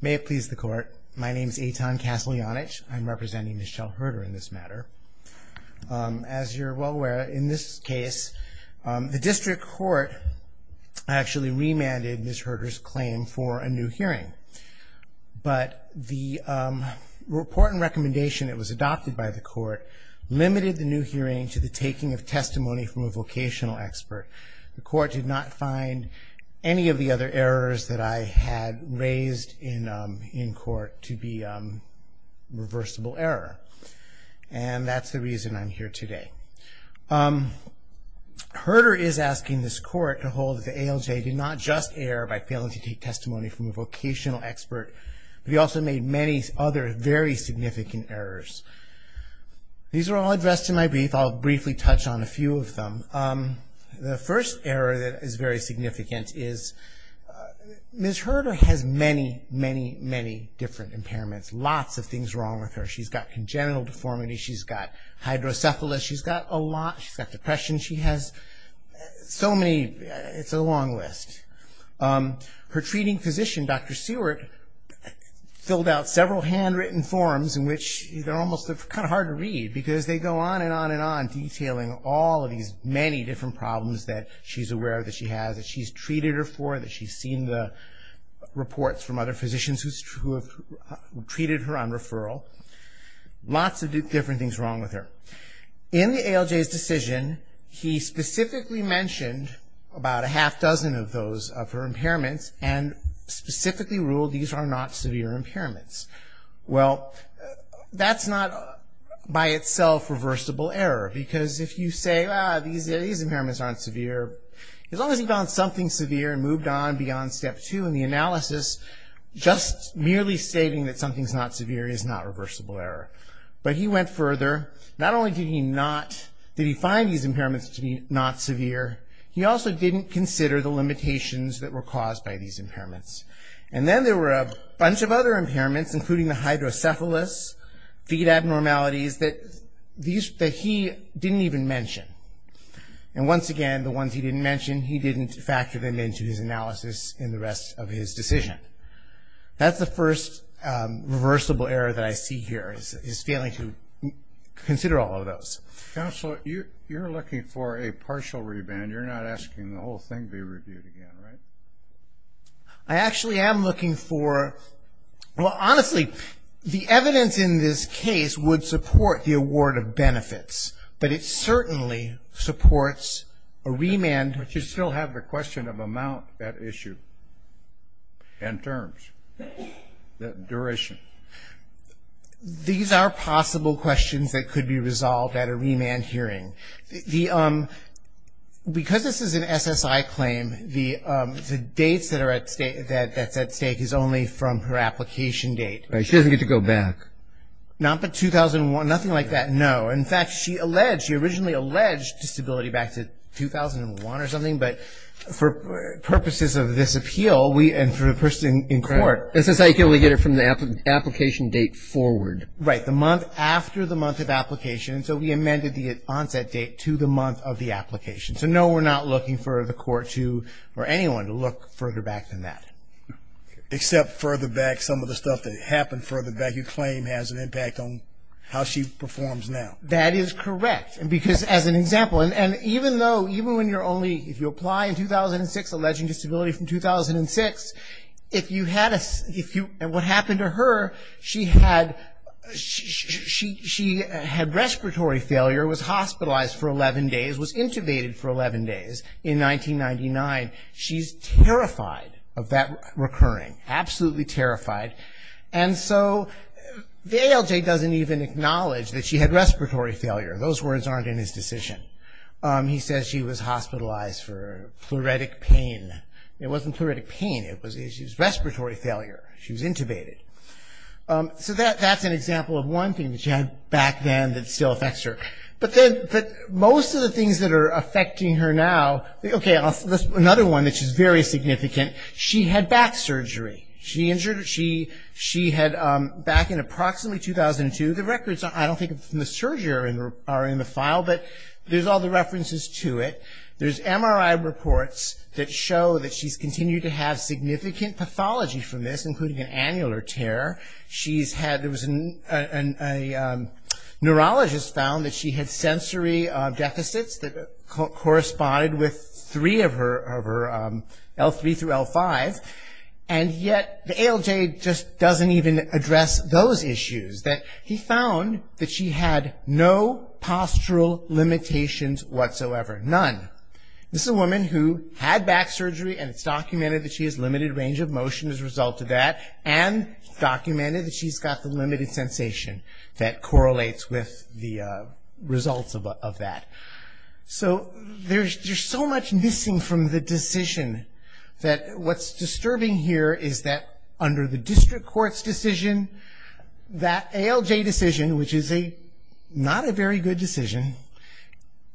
May it please the court. My name is Eitan Kassel-Janich. I'm representing Michelle Hurter in this matter As you're well aware in this case the district court Actually remanded Ms. Hurter's claim for a new hearing but the Report and recommendation it was adopted by the court Limited the new hearing to the taking of testimony from a vocational expert the court did not find Any of the other errors that I had raised in in court to be Reversible error and that's the reason I'm here today Hurter is asking this court to hold the ALJ did not just err by failing to take testimony from a vocational expert But he also made many other very significant errors These are all addressed in my brief. I'll briefly touch on a few of them The first error that is very significant is Ms. Hurter has many many many different impairments lots of things wrong with her. She's got congenital deformity. She's got Hydrocephalus, she's got a lot. She's got depression. She has So many it's a long list Her treating physician. Dr. Seward Filled out several handwritten forms in which they're almost kind of hard to read because they go on and on and on Detailing all of these many different problems that she's aware that she has that she's treated her for that. She's seen the reports from other physicians who Treated her on referral Lots of different things wrong with her in the ALJ's decision he specifically mentioned about a half dozen of those of her impairments and Specifically ruled these are not severe impairments. Well That's not By itself reversible error because if you say these impairments aren't severe As long as he found something severe and moved on beyond step two in the analysis Just merely stating that something's not severe is not reversible error But he went further not only did he not did he find these impairments to be not severe He also didn't consider the limitations that were caused by these impairments and then there were a bunch of other impairments including the hydrocephalus feed abnormalities that these that he didn't even mention and Once again, the ones he didn't mention he didn't factor them into his analysis in the rest of his decision That's the first Reversible error that I see here is is failing to Consider all of those counselor you you're looking for a partial reband. You're not asking the whole thing be reviewed again, right? I Actually am looking for Honestly the evidence in this case would support the award of benefits, but it certainly Supports a remand, but you still have the question of amount that issue and terms the duration These are possible questions that could be resolved at a remand hearing the because this is an SSI claim the Dates that are at state that that's at stake is only from her application date. She doesn't get to go back Not but 2001 nothing like that. No, in fact, she alleged she originally alleged disability back to 2001 or something but for purposes of this appeal we and for a person in court This is how you can only get it from the application date forward right the month after the month of application So we amended the onset date to the month of the application So no, we're not looking for the court to or anyone to look further back than that Except further back some of the stuff that happened for the back You claim has an impact on how she performs now that is correct and because as an example and even though even when you're only if you apply in 2006 alleging disability from 2006 if you had us if you and what happened to her she had She she had respiratory failure was hospitalized for 11 days was intubated for 11 days in 1999 she's terrified of that recurring absolutely terrified and so The ALJ doesn't even acknowledge that she had respiratory failure. Those words aren't in his decision He says she was hospitalized for pleuritic pain. It wasn't pleuritic pain. It was issues respiratory failure. She was intubated So that that's an example of one thing that she had back then that still affects her But then but most of the things that are affecting her now, okay I'll another one that she's very significant. She had back surgery. She injured her She she had back in approximately 2002 the records I don't think the surgery are in the file, but there's all the references to it There's MRI reports that show that she's continued to have significant pathology from this including an annular tear she's had there was an Neurologist found that she had sensory deficits that corresponded with three of her over L3 through L5 and Yet the ALJ just doesn't even address those issues that he found that she had no Postural limitations whatsoever none this is a woman who had back surgery and it's documented that she has limited range of motion as a result of that and Documented that she's got the limited sensation that correlates with the results of that So there's just so much missing from the decision that what's disturbing here Is that under the district courts decision? That ALJ decision, which is a not a very good decision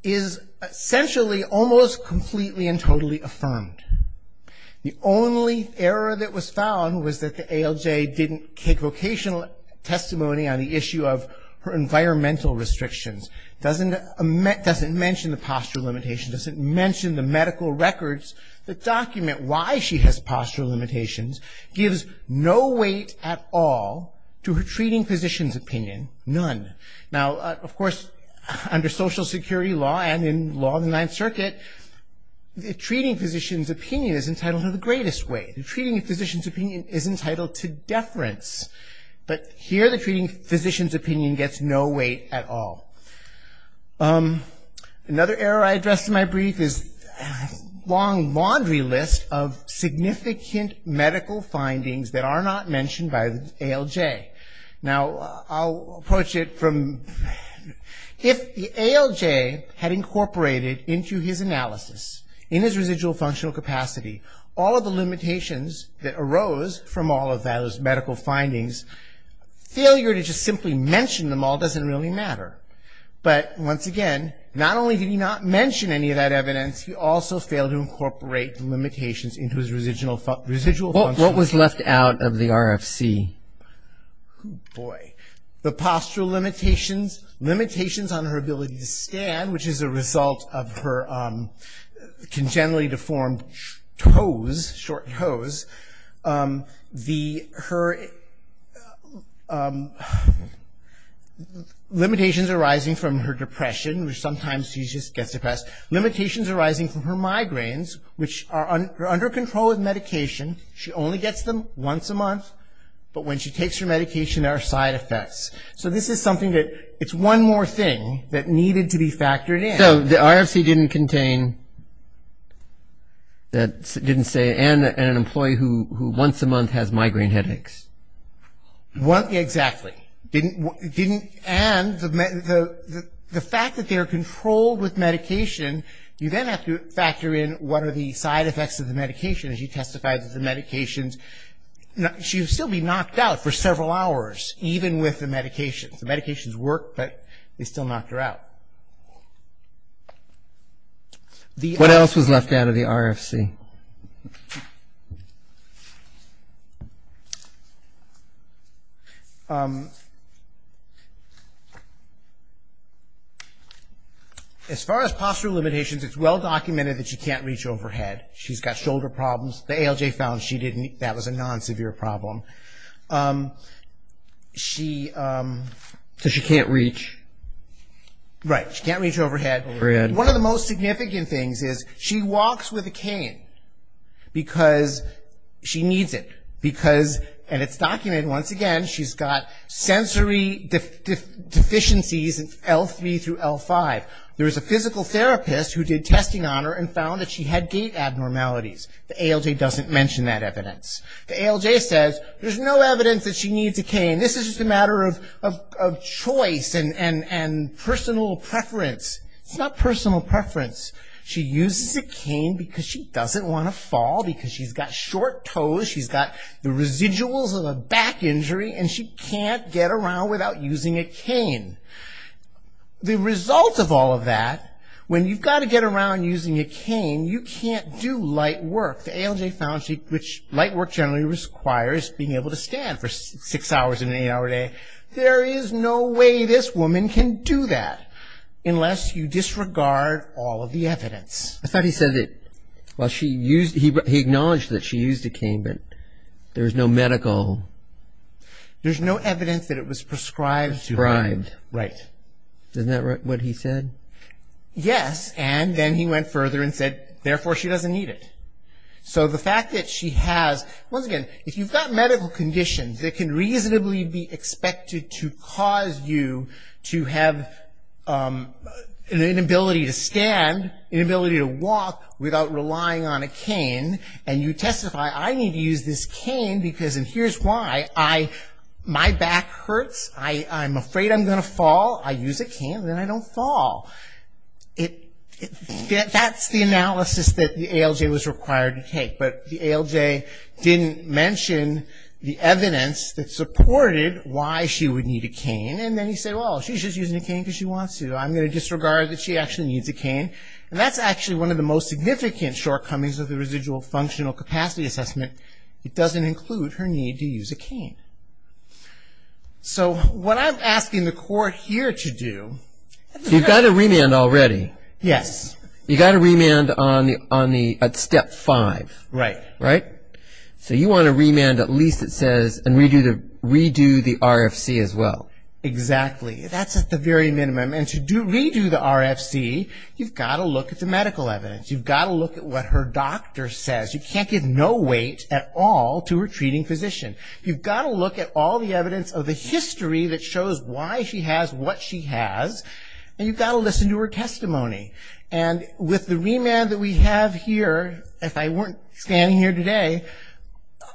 is Essentially almost completely and totally affirmed The only error that was found was that the ALJ didn't take vocational Testimony on the issue of her environmental restrictions doesn't a met doesn't mention the postural limitation doesn't mention the medical Records the document why she has postural limitations gives no weight at all To her treating physicians opinion none now, of course under Social Security law and in law of the Ninth Circuit The treating physicians opinion is entitled to the greatest way the treating physicians opinion is entitled to deference But here the treating physicians opinion gets no weight at all Another error I addressed in my brief is long laundry list of Now I'll approach it from If the ALJ had incorporated into his analysis in his residual functional capacity All of the limitations that arose from all of those medical findings Failure to just simply mention them all doesn't really matter But once again, not only did he not mention any of that evidence He also failed to incorporate the limitations into his residual residual what was left out of the RFC boy the postural limitations limitations on her ability to stand which is a result of her Congenitally deformed toes short hose the her Limitations arising from her depression which sometimes she just gets depressed Limitations arising from her migraines which are under control of medication She only gets them once a month, but when she takes her medication our side effects So this is something that it's one more thing that needed to be factored in so the IRC didn't contain That didn't say and an employee who once a month has migraine headaches What exactly didn't didn't and the the the fact that they are controlled with medication? You then have to factor in what are the side effects of the medication as you testified that the medications She would still be knocked out for several hours. Even with the medications the medications work, but they still knocked her out The what else was left out of the RFC As Far as postural limitations, it's well documented that she can't reach overhead. She's got shoulder problems the ALJ found She didn't that was a non severe problem She So she can't reach Right, she can't reach overhead one of the most significant things is she walks with a cane because She needs it because and it's documented once again. She's got sensory Deficiencies and l3 through l5 there is a physical therapist who did testing on her and found that she had gait Abnormalities the ALJ doesn't mention that evidence the ALJ says there's no evidence that she needs a cane this is just a matter of Choice and and and personal preference. It's not personal preference She uses a cane because she doesn't want to fall because she's got short toes She's got the residuals of a back injury and she can't get around without using a cane The result of all of that when you've got to get around using a cane You can't do light work the ALJ found cheek Light work generally requires being able to stand for six hours in a day There is no way this woman can do that Unless you disregard all of the evidence. I thought he said it Well, she used he acknowledged that she used a cane, but there was no medical There's no evidence that it was prescribed to grind right? Doesn't that right what he said? Yes, and then he went further and said therefore she doesn't need it So the fact that she has once again if you've got medical conditions that can reasonably be expected to cause you to have An inability to stand inability to walk without relying on a cane and you testify I need to use this cane because and here's why I My back hurts. I I'm afraid I'm gonna fall I use a cane then I don't fall it That's the analysis that the ALJ was required to take but the ALJ Didn't mention the evidence that supported why she would need a cane and then he said well She's just using a cane because she wants to I'm gonna disregard that She actually needs a cane and that's actually one of the most significant shortcomings of the residual functional capacity assessment It doesn't include her need to use a cane So what I'm asking the court here to do You've got a remand already, yes, you got a remand on the on the at step five, right, right So you want to remand at least it says and we do the redo the RFC as well Exactly. That's at the very minimum and to do redo the RFC. You've got to look at the medical evidence You've got to look at what her doctor says. You can't give no weight at all to her treating physician You've got to look at all the evidence of the history that shows why she has what she has And you've got to listen to her testimony and with the remand that we have here if I weren't standing here today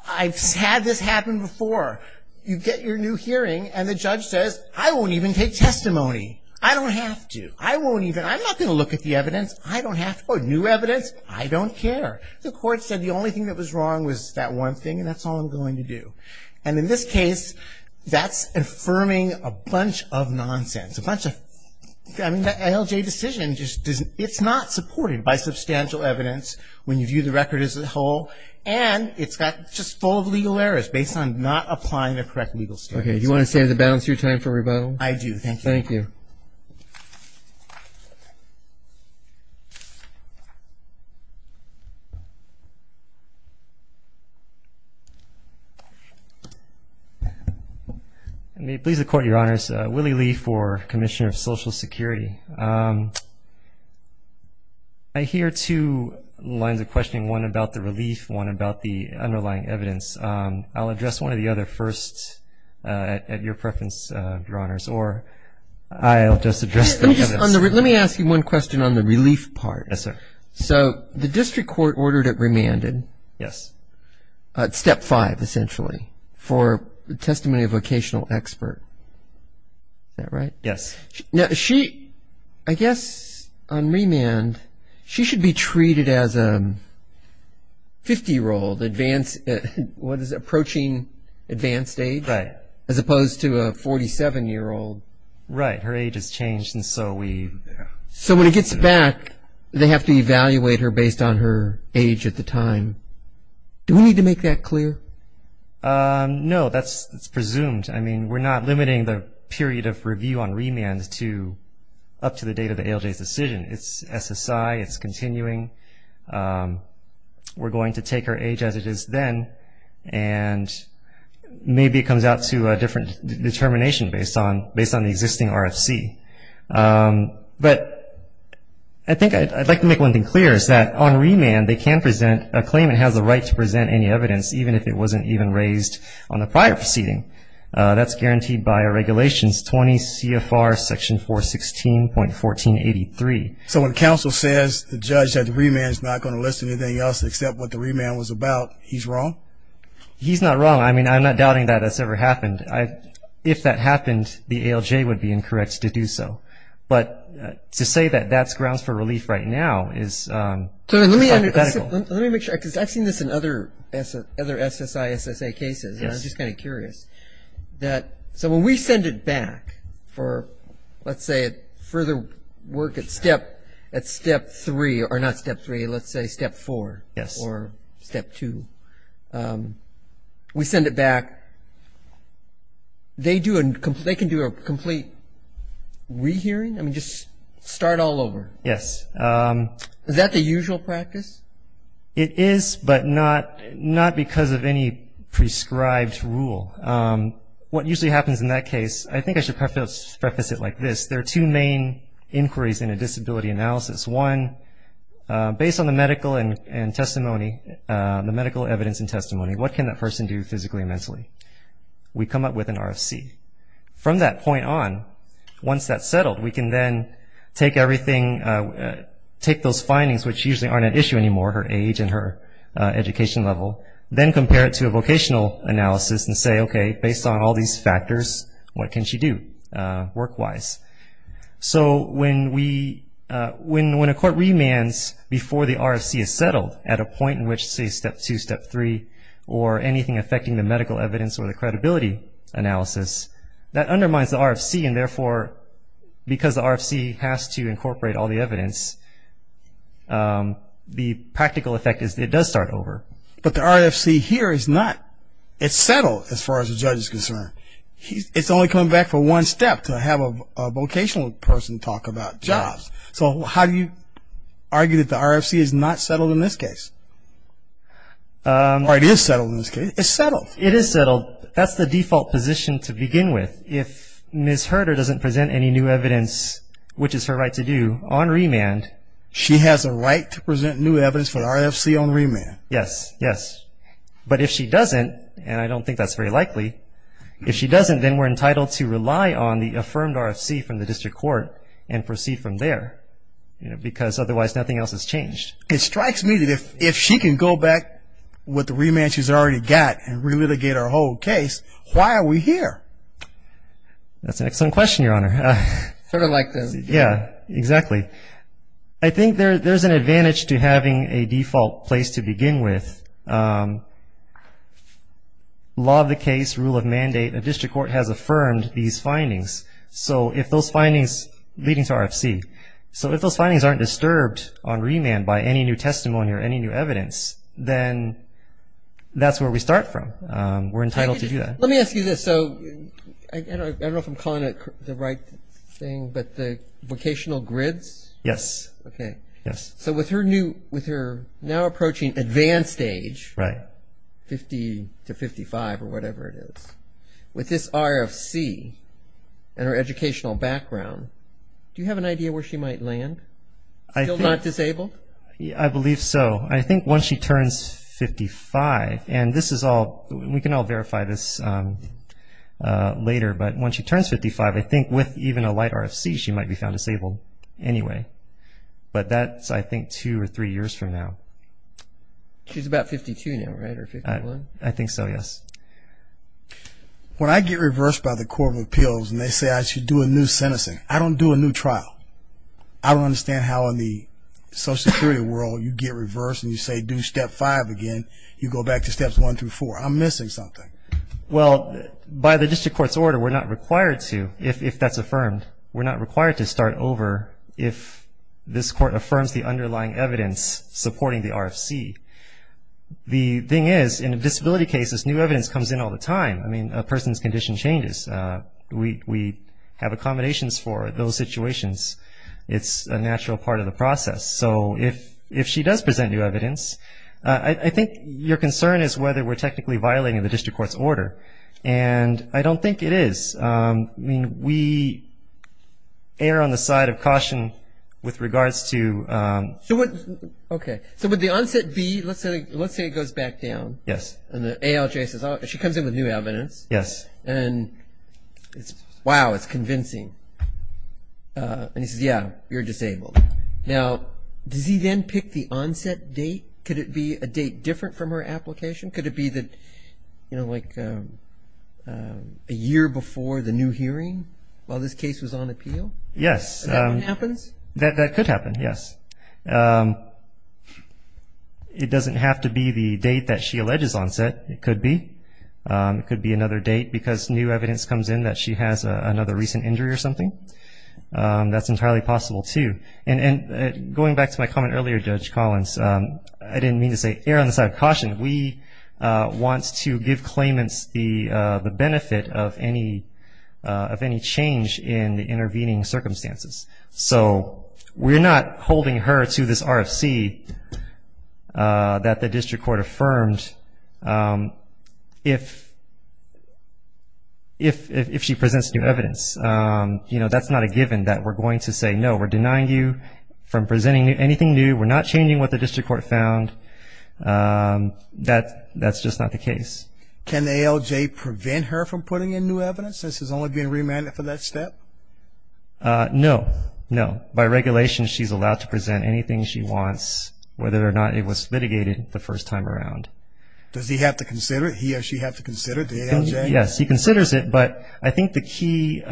I've had this happen before You get your new hearing and the judge says I won't even take testimony. I don't have to I won't even I'm not gonna Look at the evidence. I don't have to put new evidence I don't care the court said the only thing that was wrong was that one thing and that's all I'm going to do and in this case That's affirming a bunch of nonsense a bunch of LJ decision just doesn't it's not supported by substantial evidence when you view the record as a whole and It's got just full of legal errors based on not applying the correct legal standards You want to say the balance your time for rebuttal? I do. Thank you. Thank you May please the court your honors Willie Lee for Commissioner of Social Security. I Hear two lines of questioning one about the relief one about the underlying evidence. I'll address one of the other first At your preference your honors or I'll just address Let me ask you one question on the relief part. Yes, sir. So the district court ordered it remanded. Yes Step five essentially for the testimony of vocational expert Is that right? Yes. No, she I guess on remand. She should be treated as a 50 year old advanced What is approaching advanced age right as opposed to a 47 year old, right? Her age has changed and so we so when it gets back they have to evaluate her based on her age at the time Do we need to make that clear? No, that's it's presumed. I mean, we're not limiting the period of review on remands to up to the date of the ALJ's decision It's SSI. It's continuing We're going to take her age as it is then and Maybe it comes out to a different determination based on based on the existing RFC but I They can present a claim it has the right to present any evidence even if it wasn't even raised on the prior proceeding That's guaranteed by our regulations 20 CFR section 4 16 point 14 83 So when counsel says the judge that the remand is not going to listen anything else except what the remand was about he's wrong He's not wrong. I mean, I'm not doubting that that's ever happened I if that happened the ALJ would be incorrect to do so, but to say that that's grounds for relief right now is So let me make sure because I've seen this in other other SSI SSA cases, and I'm just kind of curious That so when we send it back For let's say it further work at step at step 3 or not step 3. Let's say step 4 Yes, or step 2 We send it back They do and they can do a complete Rehearing I mean just start all over. Yes Is that the usual practice it is but not not because of any prescribed rule What usually happens in that case? I think I should preface it like this. There are two main inquiries in a disability analysis one Based on the medical and testimony the medical evidence and testimony. What can that person do physically and mentally? We come up with an RFC from that point on once that's settled we can then take everything Take those findings which usually aren't an issue anymore her age and her Education level then compare it to a vocational analysis and say okay based on all these factors. What can she do? work-wise so when we when when a court remands before the RFC is settled at a point in which say step 2 step 3 or Anything affecting the medical evidence or the credibility analysis that undermines the RFC and therefore Because the RFC has to incorporate all the evidence The practical effect is it does start over but the RFC here is not it's settled as far as the judge is concerned it's only coming back for one step to have a Vocational person talk about jobs. So how do you argue that the RFC is not settled in this case? Or it is settled in this case it's settled it is settled That's the default position to begin with if miss Herder doesn't present any new evidence Which is her right to do on remand. She has a right to present new evidence for the RFC on remand. Yes. Yes But if she doesn't and I don't think that's very likely If she doesn't then we're entitled to rely on the affirmed RFC from the district court and proceed from there You know because otherwise nothing else has changed it strikes me that if if she can go back With the remand she's already got and really get our whole case. Why are we here? That's an excellent question. Your honor sort of like this. Yeah, exactly. I Think there's an advantage to having a default place to begin with Law of the case rule of mandate a district court has affirmed these findings So if those findings leading to RFC, so if those findings aren't disturbed on remand by any new testimony or any new evidence then That's where we start from we're entitled to do that. Let me ask you this. So I Don't know if I'm calling it the right thing, but the vocational grids. Yes. Okay. Yes So with her new with her now approaching advanced age, right? 50 to 55 or whatever it is with this RFC Educational background. Do you have an idea where she might land? I feel not disabled. Yeah, I believe so I think once she turns 55 and this is all we can all verify this Later, but when she turns 55, I think with even a light RFC she might be found disabled anyway But that's I think two or three years from now She's about 52 now, right? I think so. Yes When I get reversed by the Court of Appeals and they say I should do a new sentencing, I don't do a new trial I don't understand how in the Social security world you get reversed and you say do step five again. You go back to steps one through four. I'm missing something Well by the district courts order, we're not required to if that's affirmed We're not required to start over if this court affirms the underlying evidence supporting the RFC The thing is in a disability cases new evidence comes in all the time, I mean a person's condition changes We have accommodations for those situations It's a natural part of the process. So if if she does present new evidence I think your concern is whether we're technically violating the district court's order and I don't think it is I mean we err on the side of caution with regards to So what okay, so with the onset B, let's say let's say it goes back down Yes, and the ALJ says she comes in with new evidence. Yes, and It's wow, it's convincing And he says yeah, you're disabled now Does he then pick the onset date? Could it be a date different from her application? Could it be that you know, like? A year before the new hearing while this case was on appeal. Yes That could happen yes It doesn't have to be the date that she alleges onset it could be It could be another date because new evidence comes in that she has another recent injury or something That's entirely possible, too. And and going back to my comment earlier judge Collins. I didn't mean to say err on the side of caution. We wants to give claimants the the benefit of any Of any change in the intervening circumstances, so we're not holding her to this RFC That the district court affirmed if If if she presents new evidence You know, that's not a given that we're going to say no we're denying you from presenting anything new. We're not changing what the district court found That that's just not the case can the ALJ prevent her from putting in new evidence this is only being remanded for that step No, no by regulation. She's allowed to present anything. She wants whether or not it was litigated the first time around Does he have to consider it? He or she have to consider it? Yes, he considers it, but I think the key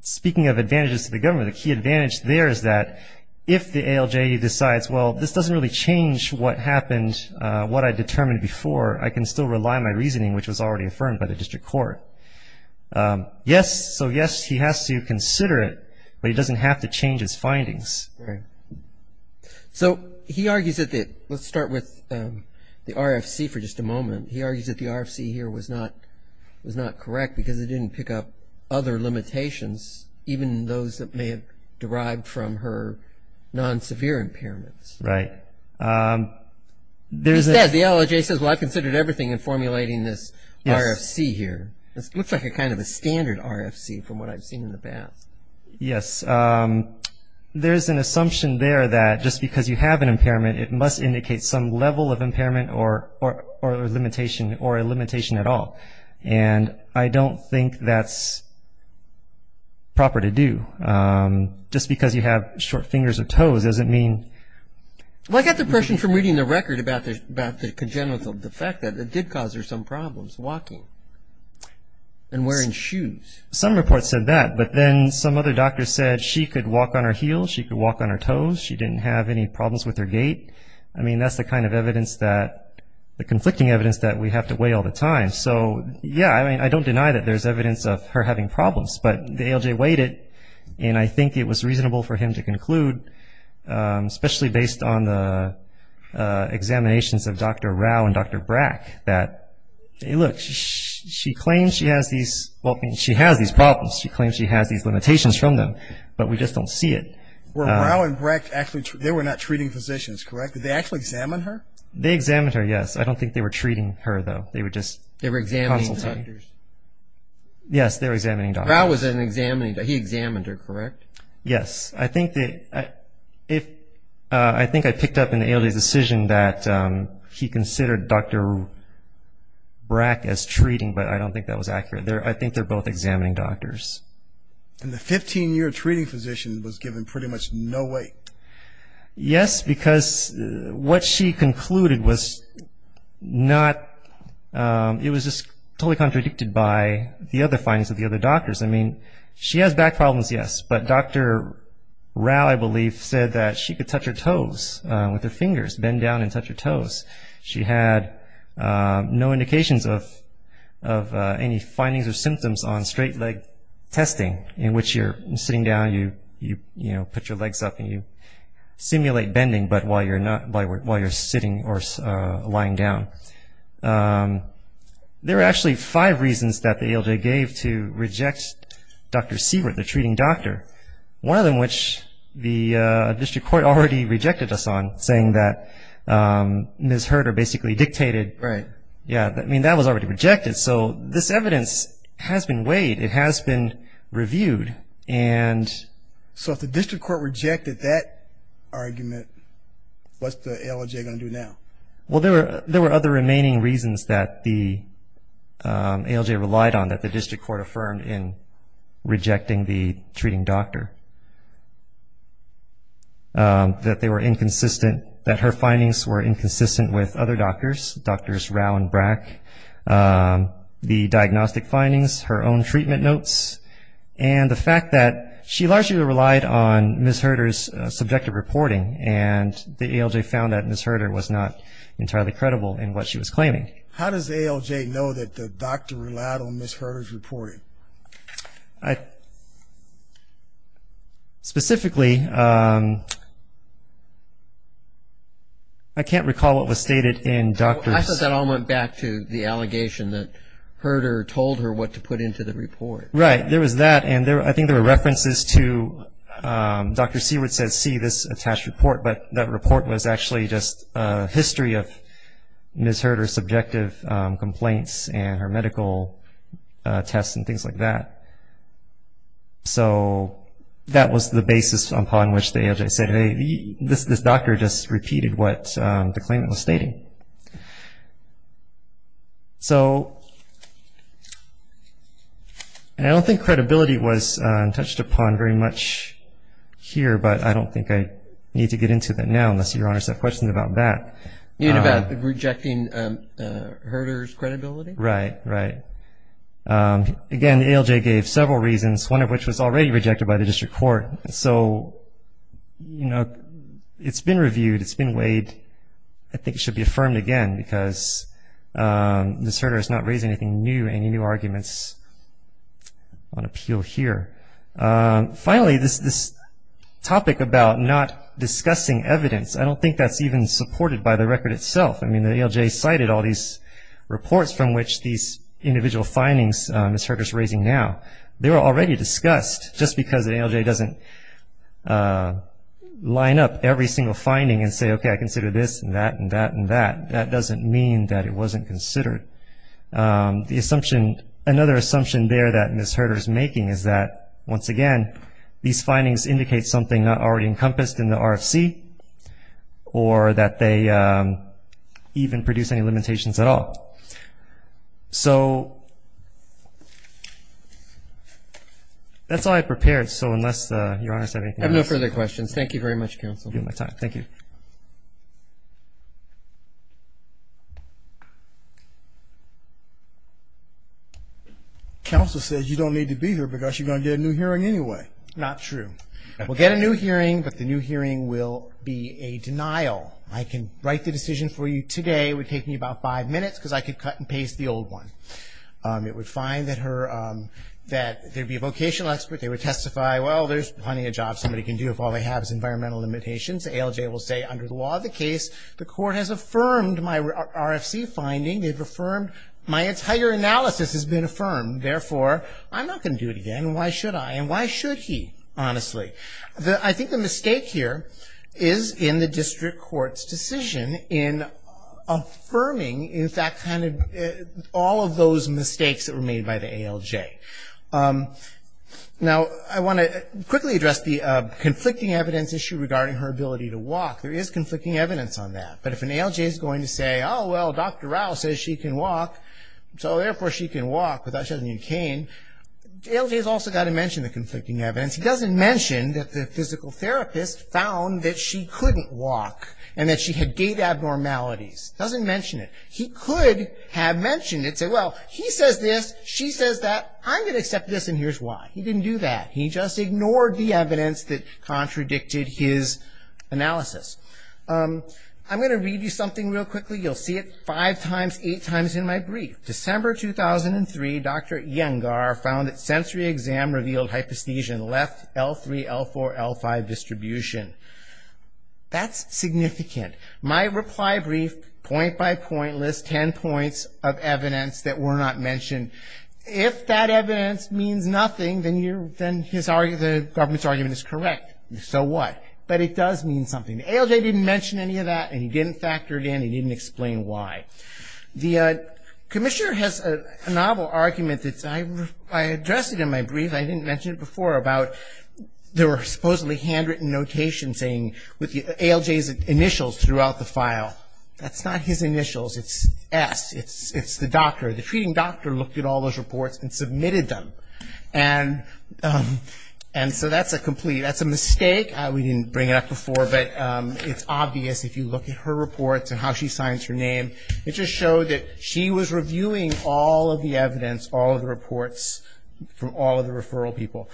Speaking of advantages to the government a key advantage. There is that if the ALJ decides Well, this doesn't really change what happened what I determined before I can still rely my reasoning which was already affirmed by the district court Yes, so yes, he has to consider it, but he doesn't have to change his findings So he argues that that let's start with The RFC for just a moment. He argues that the RFC here was not was not correct because it didn't pick up other Limitations even those that may have derived from her Non-severe impairments, right There's that the LJ says well, I considered everything in formulating this RFC here This looks like a kind of a standard RFC from what I've seen in the past. Yes there's an assumption there that just because you have an impairment it must indicate some level of impairment or or limitation or a limitation at all and I don't think that's Proper to do Just because you have short fingers or toes doesn't mean Well, I got the impression from reading the record about this about the congenital defect that it did cause her some problems walking And wearing shoes some reports said that but then some other doctor said she could walk on her heels. She could walk on her toes She didn't have any problems with her gait I mean, that's the kind of evidence that the conflicting evidence that we have to weigh all the time So yeah, I mean, I don't deny that there's evidence of her having problems But the LJ weighed it and I think it was reasonable for him to conclude especially based on the examinations of dr. Rao and dr. Brack that Looks she claims she has these well, she has these problems She claims she has these limitations from them, but we just don't see it Rowan Brecht actually they were not treating physicians, correct. Did they actually examine her they examined her? Yes I don't think they were treating her though. They were just they were Examining doctors Yes, they're examining. I was an examiner. He examined her, correct? Yes, I think that I if I think I picked up in the early decision that He considered dr. Brack as treating but I don't think that was accurate there. I think they're both examining doctors And the 15-year treating physician was given pretty much. No way yes, because What she concluded was? not It was just totally contradicted by the other findings of the other doctors. I mean she has back problems. Yes, but dr. Rao, I believe said that she could touch her toes with her fingers bend down and touch her toes. She had no indications of of Any findings or symptoms on straight leg testing in which you're sitting down you you you know, put your legs up and you Simulate bending but while you're not by work while you're sitting or lying down There are actually five reasons that the ALJ gave to reject Dr. Seward the treating doctor one of them which the district court already rejected us on saying that Ms. Herter basically dictated right? Yeah, I mean that was already rejected. So this evidence has been weighed. It has been reviewed and So if the district court rejected that argument What's the LJ gonna do now, well, there were there were other remaining reasons that the ALJ relied on that the district court affirmed in rejecting the treating doctor That they were inconsistent that her findings were inconsistent with other doctors drs. Rao and Brack the diagnostic findings her own treatment notes and The fact that she largely relied on miss Herter's subjective reporting and the ALJ found that miss Herter was not Entirely credible in what she was claiming. How does the ALJ know that the doctor relied on miss Herter's reporting? I Specifically I Can't recall what was stated in doctors I thought that all went back to the allegation that Herder told her what to put into the report, right? There was that and there I think there were references to Dr. Seward says see this attached report, but that report was actually just a history of Miss Herter subjective complaints and her medical tests and things like that so That was the basis upon which they as I said, hey this this doctor just repeated what the claimant was stating So And I don't think credibility was touched upon very much Here, but I don't think I need to get into that now unless your honor set questions about that. You know about rejecting Herder's credibility, right, right Again, the ALJ gave several reasons one of which was already rejected by the district court. So You know, it's been reviewed it's been weighed I think it should be affirmed again because Miss Herder is not raising anything new any new arguments on appeal here finally this this Topic about not discussing evidence. I don't think that's even supported by the record itself. I mean the ALJ cited all these Reports from which these individual findings miss Herder's raising now. They were already discussed just because the ALJ doesn't Line up every single finding and say, okay, I consider this and that and that and that that doesn't mean that it wasn't considered The assumption another assumption there that miss Herder's making is that once again these findings indicate something not already encompassed in the RFC or that they Even produce any limitations at all so That's all I prepared so unless you're honest I have no further questions, thank you very much counsel my time. Thank you Counsel says you don't need to be here because you're gonna get a new hearing anyway, not true We'll get a new hearing but the new hearing will be a denial I can write the decision for you today would take me about five minutes because I could cut and paste the old one It would find that her that there'd be a vocational expert. They would testify Well, there's plenty of jobs somebody can do if all they have is environmental limitations ALJ will say under the law of the case. The court has affirmed my RFC finding They've affirmed my entire analysis has been affirmed. Therefore. I'm not gonna do it again Why should I and why should he honestly the I think the mistake here is in the district courts decision in Affirming in fact kind of all of those mistakes that were made by the ALJ Now I want to quickly address the conflicting evidence issue regarding her ability to walk there is conflicting evidence on that But if an ALJ is going to say, oh, well, dr. Rao says she can walk. So therefore she can walk without shutting in cane LJ's also got to mention the conflicting evidence He doesn't mention that the physical therapist found that she couldn't walk and that she had data abnormalities doesn't mention it He could have mentioned it say well, he says this she says that I'm gonna accept this and here's why he didn't do that He just ignored the evidence that contradicted his analysis I'm gonna read you something real quickly. You'll see it five times eight times in my brief December 2003. Dr anesthesia left l3 l4 l5 distribution That's significant my reply brief point-by-point list ten points of evidence that were not mentioned If that evidence means nothing then you then his argument the government's argument is correct So what but it does mean something the ALJ didn't mention any of that and he didn't factor it in he didn't explain why? the Commissioner has a novel argument that's I I addressed it in my brief. I didn't mention it before about There were supposedly handwritten notation saying with the ALJ's initials throughout the file. That's not his initials it's s it's it's the doctor the treating doctor looked at all those reports and submitted them and And so that's a complete that's a mistake We didn't bring it up before but it's obvious if you look at her reports and how she signs her name It just showed that she was reviewing all of the evidence all of the reports from all of the referral people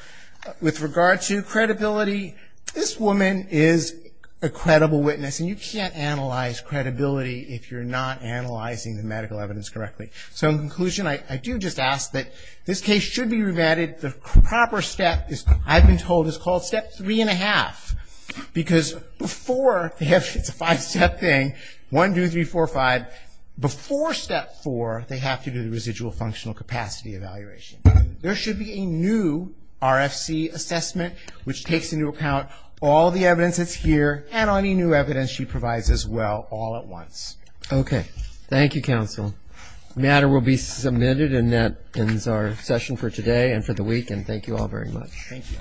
with regard to credibility this woman is a Credible witness and you can't analyze credibility if you're not analyzing the medical evidence correctly So in conclusion, I do just ask that this case should be remanded The proper step is I've been told is called step three and a half Because before if it's a five-step thing one, two, three, four five Before step four they have to do the residual functional capacity evaluation. There should be a new RFC assessment which takes into account all the evidence that's here and any new evidence she provides as well all at once Okay. Thank you counsel Matter will be submitted and that ends our session for today and for the week and thank you all very much Thank you